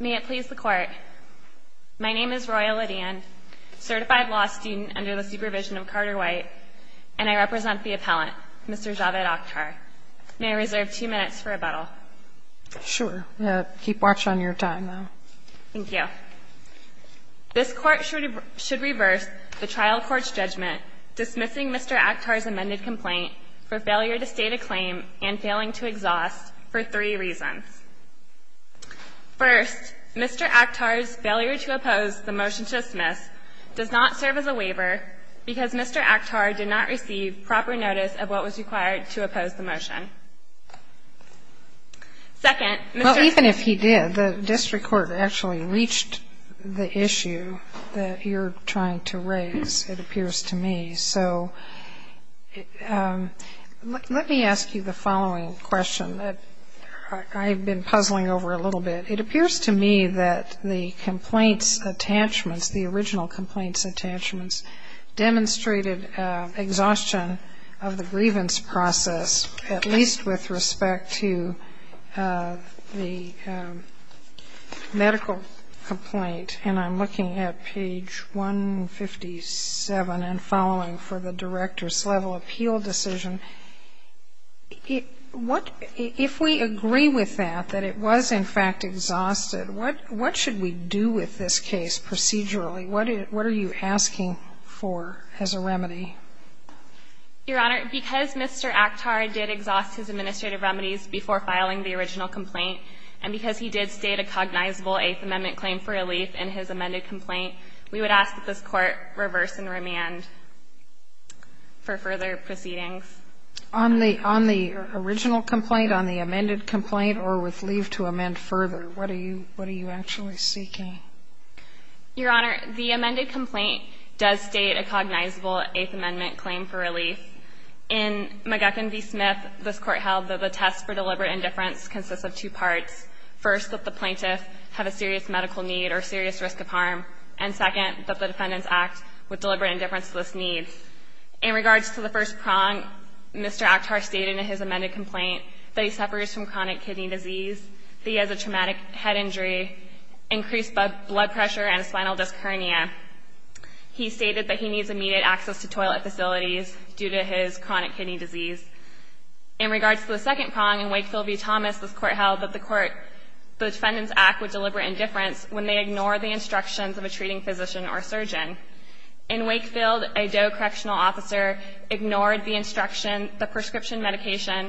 May it please the Court, my name is Roya Lydian, certified law student under the supervision of Carter White, and I represent the appellant, Mr. Javiad Akhtar. May I reserve two minutes for rebuttal? Sure. Keep watch on your time, though. Thank you. This Court should reverse the trial court's judgment dismissing Mr. Akhtar's amended complaint for failure to state a claim and failing to exhaust for three reasons. First, Mr. Akhtar's failure to oppose the motion to dismiss does not serve as a waiver because Mr. Akhtar did not receive proper notice of what was required to oppose the motion. Second, Mr. – Well, even if he did, the district court actually reached the issue that you're trying to raise, it appears to me. So let me ask you the following question that I've been puzzling over a little bit. It appears to me that the complaint's attachments, the original complaint's attachments, demonstrated exhaustion of the grievance process, at least with respect to the medical complaint. And I'm looking at page 157 and following for the director's level appeal decision. If we agree with that, that it was in fact exhausted, what should we do with this case procedurally? What are you asking for as a remedy? Your Honor, because Mr. Akhtar did exhaust his administrative remedies before filing the original complaint, and because he did state a cognizable Eighth Amendment claim for relief in his amended complaint, we would ask that this Court reverse and remand for further proceedings. On the original complaint, on the amended complaint, or with leave to amend further, what are you actually seeking? Your Honor, the amended complaint does state a cognizable Eighth Amendment claim for relief. In McGuckin v. Smith, this Court held that the test for deliberate indifference consists of two parts, first, that the plaintiff have a serious medical need or serious risk of harm, and second, that the defendants act with deliberate indifference to this need. In regards to the first prong, Mr. Akhtar stated in his amended complaint that he suffers from chronic kidney disease, that he has a traumatic head injury, increased blood pressure and spinal disc hernia. He stated that he needs immediate access to toilet facilities due to his chronic kidney disease. In regards to the second prong, in Wakefield v. Thomas, this Court held that the court the defendants act with deliberate indifference when they ignore the instructions of a treating physician or surgeon. In Wakefield, a DOE correctional officer ignored the instruction, the prescription medication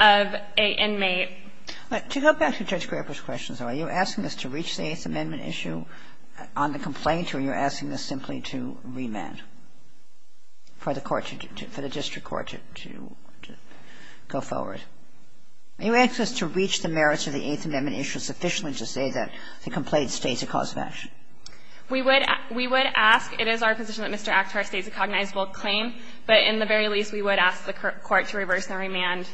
of an inmate. To go back to Judge Graber's questions, are you asking us to reach the Eighth Amendment issue on the complaint, or are you asking us simply to remand for the court to do to, for the district court to, to go forward? Are you asking us to reach the merits of the Eighth Amendment issue sufficiently to say that the complaint states a cause of action? We would, we would ask, it is our position that Mr. Akhtar states a cognizable claim, but in the very least, we would ask the court to reverse the remand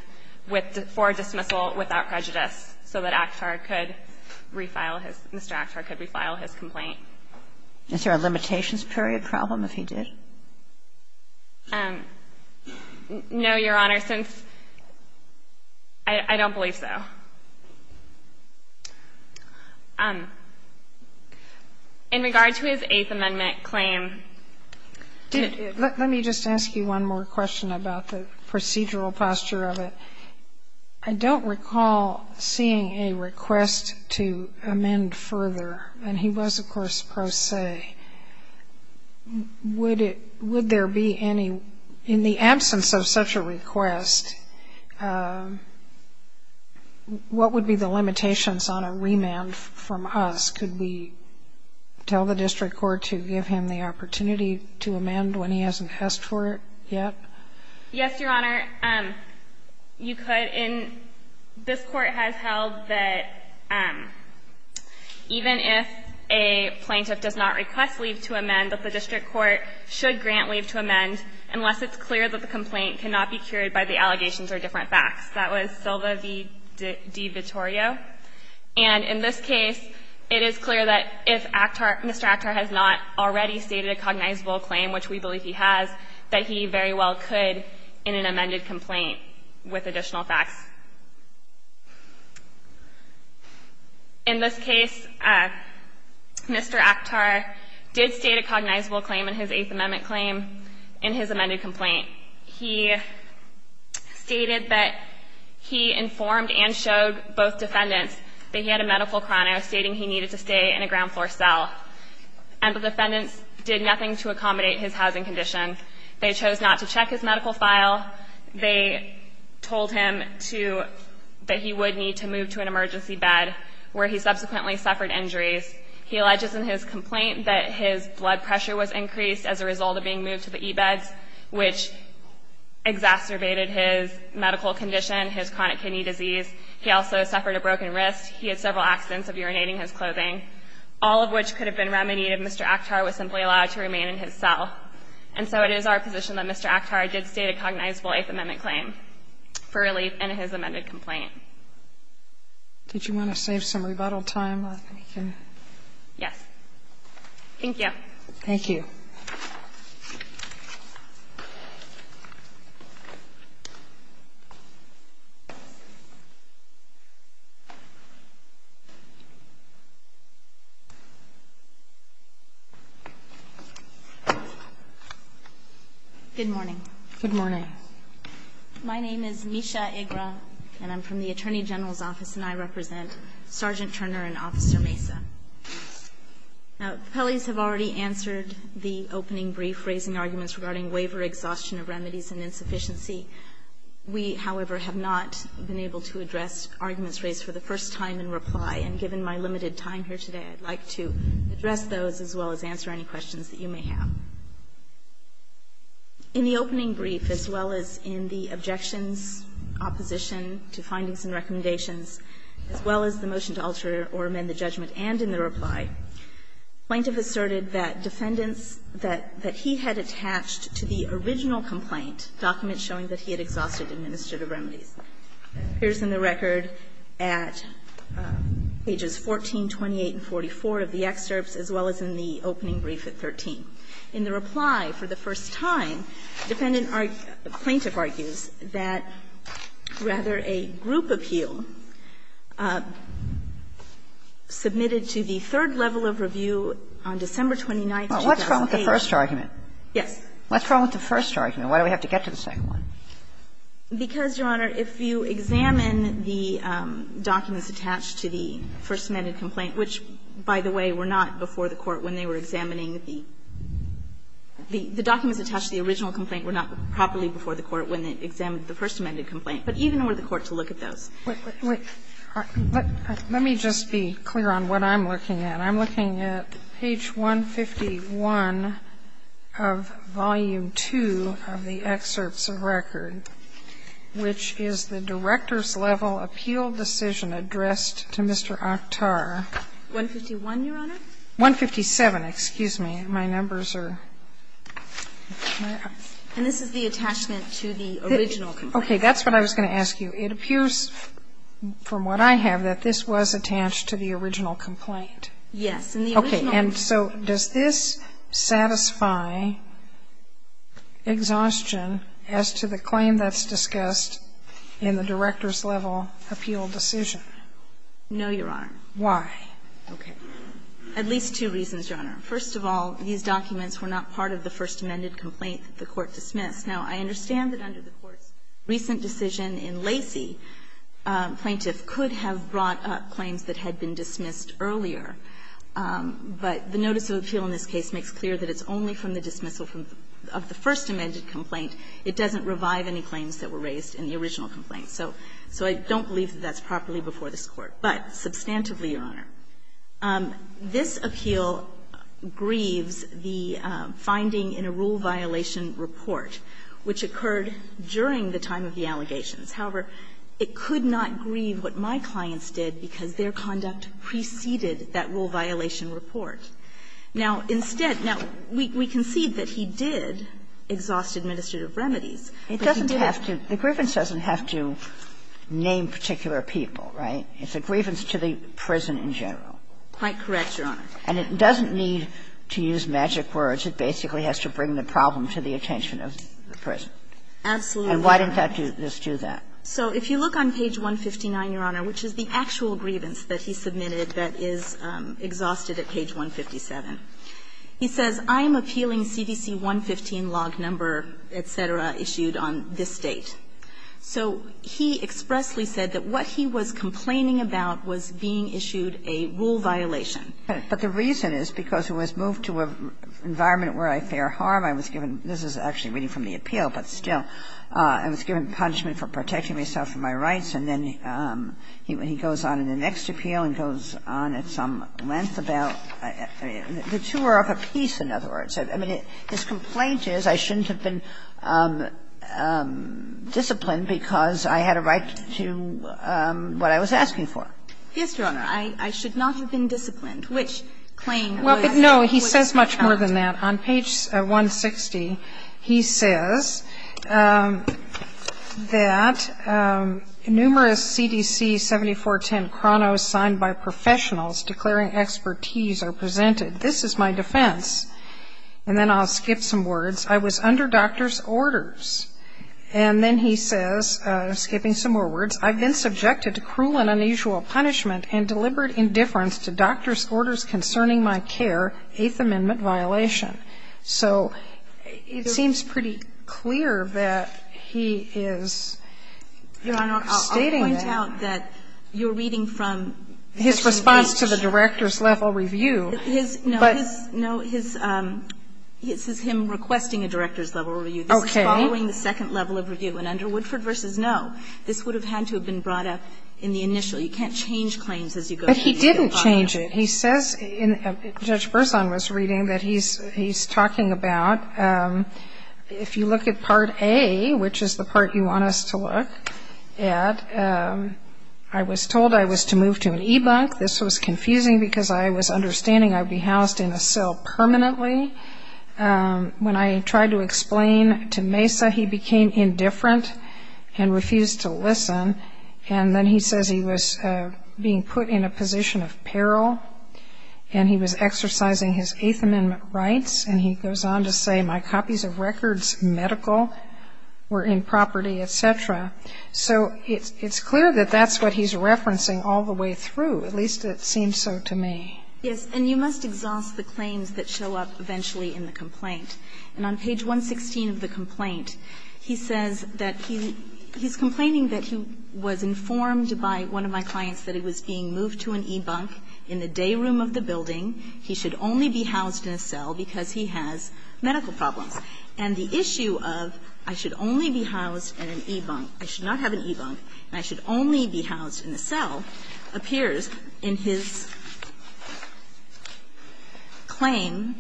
with, for dismissal without prejudice so that Akhtar could refile his, Mr. Akhtar could refile his complaint. Is there a limitations period problem if he did? No, Your Honor, since I don't believe so. In regard to his Eighth Amendment claim. Let me just ask you one more question about the procedural posture of it. I don't recall seeing a request to amend further, and he was, of course, pro se. Would it, would there be any, in the absence of such a request, what would be the limitations on a remand from us? Could we tell the district court to give him the opportunity to amend when he hasn't asked for it yet? Yes, Your Honor, you could. And this Court has held that even if a plaintiff does not request leave to amend, that the district court should grant leave to amend unless it's clear that the complaint cannot be cured by the allegations or different facts. That was Silva v. De Vittorio. And in this case, it is clear that if Akhtar, Mr. Akhtar has not already stated a cognizable claim, which we believe he has, that he very well could in an amended complaint with additional facts. In this case, Mr. Akhtar did state a cognizable claim in his Eighth Amendment claim in his amended complaint. He stated that he informed and showed both defendants that he had a medical chrono stating he needed to stay in a ground floor cell. And the defendants did nothing to accommodate his housing condition. They chose not to check his medical file. They told him to — that he would need to move to an emergency bed, where he subsequently suffered injuries. He alleges in his complaint that his blood pressure was increased as a result of being moved to the E-beds, which exacerbated his medical condition, his chronic kidney disease. He also suffered a broken wrist. He had several accidents of urinating his clothing, all of which could have been remedied if Mr. Akhtar was simply allowed to remain in his cell. And so it is our position that Mr. Akhtar did state a cognizable Eighth Amendment claim for relief in his amended complaint. Sotomayor, did you want to save some rebuttal time? Yes. Thank you. Thank you. Good morning. Good morning. My name is Misha Agra, and I'm from the Attorney General's Office, and I represent Sergeant Turner and Officer Mesa. Now, the appellees have already answered the opening brief raising arguments regarding waiver, exhaustion of remedies, and insufficiency. We, however, have not been able to address arguments raised for the first time in reply, and given my limited time here today, I'd like to address those as well as answer any questions that you may have. In the opening brief, as well as in the objections, opposition to findings and recommendations, as well as the motion to alter or amend the judgment and in the reply, plaintiff asserted that defendants that he had attached to the original complaint document showing that he had exhausted administrative remedies. Here's in the record at pages 14, 28, and 44 of the excerpts, as well as in the opening brief at 13. In the reply, for the first time, defendant argued, plaintiff argues, that rather a group appeal submitted to the third level of review on December 29, 2008. Kagan. Well, what's wrong with the first argument? Yes. What's wrong with the first argument? Why do we have to get to the second one? Because, Your Honor, if you examine the documents attached to the first amended complaint, which, by the way, were not before the Court when they were examining the the documents attached to the original complaint were not properly before the Court to look at those. Let me just be clear on what I'm looking at. I'm looking at page 151 of volume 2 of the excerpts of record, which is the director's level appeal decision addressed to Mr. Akhtar. 151, Your Honor? 157, excuse me. My numbers are. And this is the attachment to the original complaint. Okay. That's what I was going to ask you. It appears from what I have that this was attached to the original complaint. Yes. Okay. And so does this satisfy exhaustion as to the claim that's discussed in the director's level appeal decision? No, Your Honor. Why? Okay. At least two reasons, Your Honor. First of all, these documents were not part of the first amended complaint that the Court dismissed. Now, I understand that under the Court's recent decision in Lacey, plaintiff could have brought up claims that had been dismissed earlier. But the notice of appeal in this case makes clear that it's only from the dismissal of the first amended complaint. It doesn't revive any claims that were raised in the original complaint. So I don't believe that that's properly before this Court. But substantively, Your Honor, this appeal grieves the finding in a rule violation report, which occurred during the time of the allegations. However, it could not grieve what my clients did, because their conduct preceded that rule violation report. Now, instead, now, we concede that he did exhaust administrative remedies, but he didn't have to. The grievance doesn't have to name particular people, right? It's a grievance to the prison in general. Quite correct, Your Honor. And it doesn't need to use magic words. It basically has to bring the problem to the attention of the prison. Absolutely. And why didn't that just do that? So if you look on page 159, Your Honor, which is the actual grievance that he submitted that is exhausted at page 157, he says, I am appealing CDC 115 log number, et cetera, issued on this date. So he expressly said that what he was complaining about was being issued a rule violation. But the reason is because he was moved to an environment where I fear harm. I was given – this is actually reading from the appeal, but still – I was given punishment for protecting myself from my rights. And then he goes on in the next appeal and goes on at some length about – the two are of a piece, in other words. I mean, his complaint is I shouldn't have been disciplined because I had a right to what I was asking for. Yes, Your Honor. I should not have been disciplined, which claim was – Well, but no, he says much more than that. On page 160, he says that numerous CDC 7410 chronos signed by professionals declaring expertise are presented. This is my defense. And then I'll skip some words. I was under doctor's orders. And then he says, skipping some more words, I've been subjected to cruel and unusual punishment and deliberate indifference to doctor's orders concerning my care, Eighth Amendment violation. So it seems pretty clear that he is stating that. Your Honor, I'll point out that you're reading from Section 8. His response to the director's level review, but – No, his – no, his – this is him requesting a director's level review. Okay. This is following the second level of review. And under Woodford v. No, this would have had to have been brought up in the initial. You can't change claims as you go through the file. But he didn't change it. He says, Judge Bersan was reading, that he's talking about, if you look at Part A, which is the part you want us to look at, I was told I was to move to an e-bunk. This was confusing because I was understanding I would be housed in a cell permanently. When I tried to explain to Mesa, he became indifferent and refused to listen. And then he says he was being put in a position of peril and he was exercising his Eighth Amendment rights. And he goes on to say, my copies of records, medical, were in property, et cetera. So it's clear that that's what he's referencing all the way through. At least it seems so to me. Yes. And you must exhaust the claims that show up eventually in the complaint. And on page 116 of the complaint, he says that he's complaining that he was informed by one of my clients that he was being moved to an e-bunk in the day room of the building. He should only be housed in a cell because he has medical problems. And the issue of, I should only be housed in an e-bunk, I should not have an e-bunk, and I should only be housed in a cell, appears in his claim,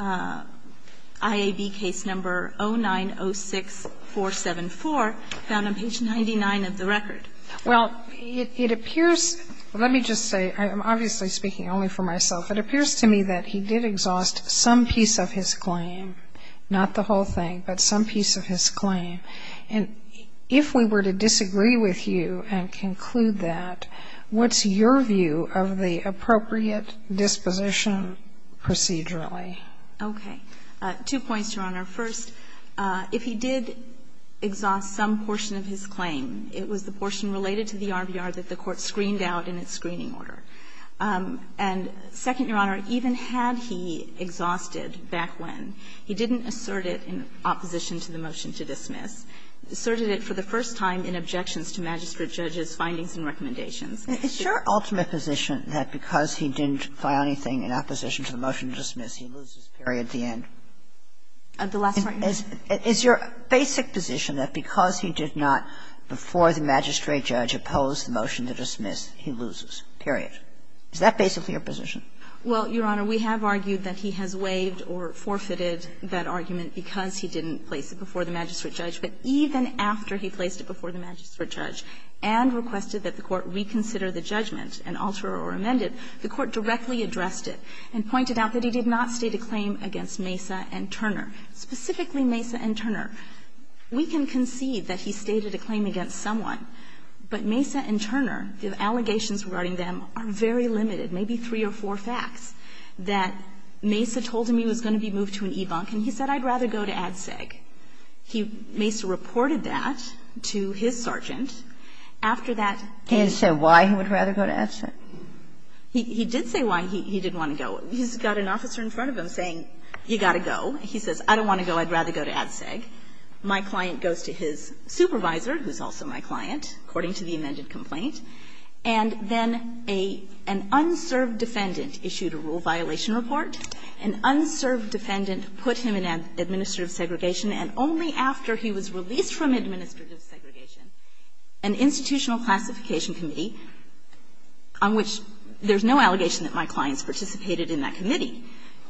IAB case number 0906474, found on page 99 of the record. Well, it appears, let me just say, I'm obviously speaking only for myself. It appears to me that he did exhaust some piece of his claim, not the whole thing, but some piece of his claim. And if we were to disagree with you and conclude that, what's your view of the appropriate disposition procedurally? Okay. Two points, Your Honor. First, if he did exhaust some portion of his claim, it was the portion related to the RBR that the Court screened out in its screening order. And second, Your Honor, even had he exhausted back when, he didn't assert it in opposition to the motion to dismiss, asserted it for the first time in objections to magistrate judges' findings and recommendations. Is your ultimate position that because he didn't find anything in opposition to the motion to dismiss, he loses, period, the end? The last part? Is your basic position that because he did not, before the magistrate judge, oppose the motion to dismiss, he loses, period? Is that basically your position? Well, Your Honor, we have argued that he has waived or forfeited that argument because he didn't place it before the magistrate judge, but even after he placed it before the magistrate judge and requested that the Court reconsider the judgment and alter or amend it, the Court directly addressed it and pointed out that he did not state a claim against Mesa and Turner, specifically Mesa and Turner. We can concede that he stated a claim against someone, but Mesa and Turner, the allegations regarding them are very limited, maybe three or four facts, that Mesa told him he was going to be moved to an e-bunk, and he said, I'd rather go to ADSEG. Mesa reported that to his sergeant. After that case he said why he would rather go to ADSEG. He did say why he didn't want to go. He's got an officer in front of him saying, you've got to go. He says, I don't want to go. I'd rather go to ADSEG. My client goes to his supervisor, who's also my client, according to the amended complaint, and then an unserved defendant issued a rule violation report, an unserved defendant put him in administrative segregation, and only after he was released from administrative segregation, an institutional classification committee on which there's no allegation that my client's participated in that committee,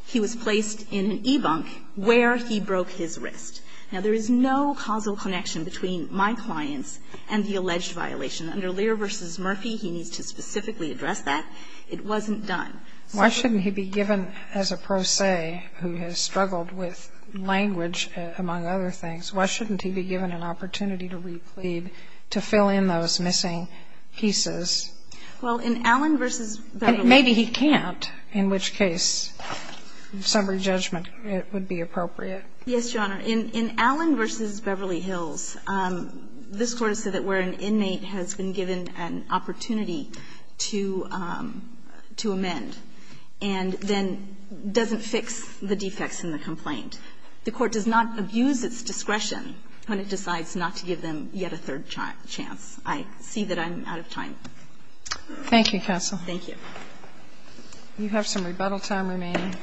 he was placed in an e-bunk where he broke his wrist. Now, there is no causal connection between my clients and the alleged violation. Under Lear v. Murphy, he needs to specifically address that. It wasn't done. Sotomayor, why shouldn't he be given, as a pro se who has struggled with language, among other things, why shouldn't he be given an opportunity to replead, to fill in those missing pieces? Well, in Allen v. Beverly Hills. Maybe he can't, in which case summary judgment would be appropriate. Yes, Your Honor. In Allen v. Beverly Hills, this Court has said that where an inmate has been given an opportunity to amend and then doesn't fix the defects in the complaint, the Court does not abuse its discretion when it decides not to give them yet a third chance. I see that I'm out of time. Thank you, counsel. Thank you. You have some rebuttal time remaining.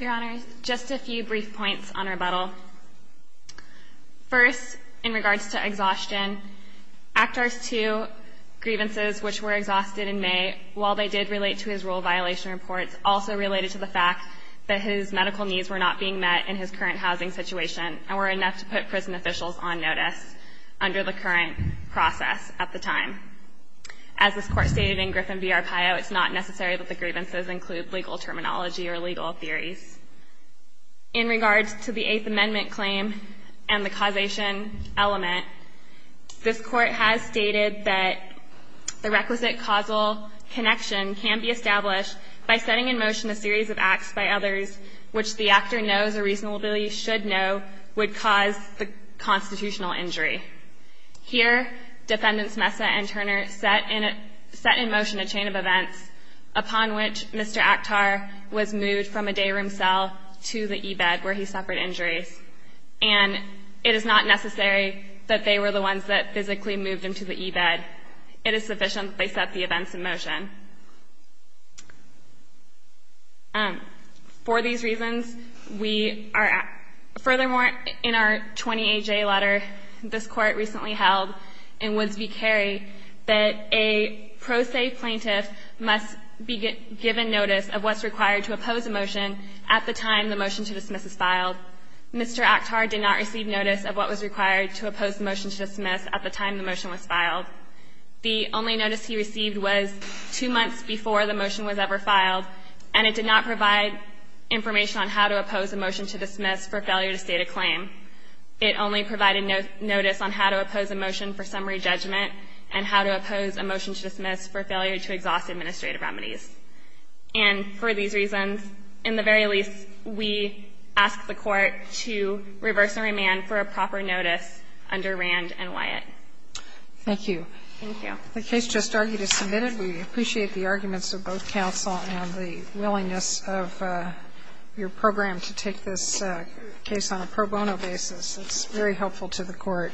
Your Honor, just a few brief points on rebuttal. First, in regards to exhaustion, Act Art 2 grievances, which were exhausted in May, while they did relate to his rule violation reports, also related to the fact that his medical needs were not being met in his current housing situation and were enough to put prison officials on notice under the current process at the time. As this Court stated in Griffin v. Arcaio, it's not necessary that the grievances include legal terminology or legal theories. In regards to the Eighth Amendment claim and the causation element, this Court has stated that the requisite causal connection can be established by setting in motion a series of acts by others which the actor knows or reasonably should know would cause the constitutional injury. Here, Defendants Messa and Turner set in motion a chain of events upon which Mr. Actar was moved from a day room cell to the E-bed where he suffered injuries. And it is not necessary that they were the ones that physically moved him to the E-bed. It is sufficient that they set the events in motion. For these reasons, we are at – furthermore, in our 20-A-J letter, this Court recently held in Woods v. Carey that a pro se plaintiff must be given notice of what's required to oppose a motion at the time the motion to dismiss is filed. Mr. Actar did not receive notice of what was required to oppose the motion to dismiss at the time the motion was filed. The only notice he received was two months before the motion was ever filed, and it did not provide information on how to oppose a motion to dismiss for failure to state a claim. It only provided notice on how to oppose a motion for summary judgment and how to oppose a motion to dismiss for failure to exhaust administrative remedies. And for these reasons, in the very least, we ask the Court to reverse and remand for a proper notice under Rand and Wyatt. Thank you. Thank you. The case just argued is submitted. We appreciate the arguments of both counsel and the willingness of your program to take this case on a pro bono basis. It's very helpful to the Court.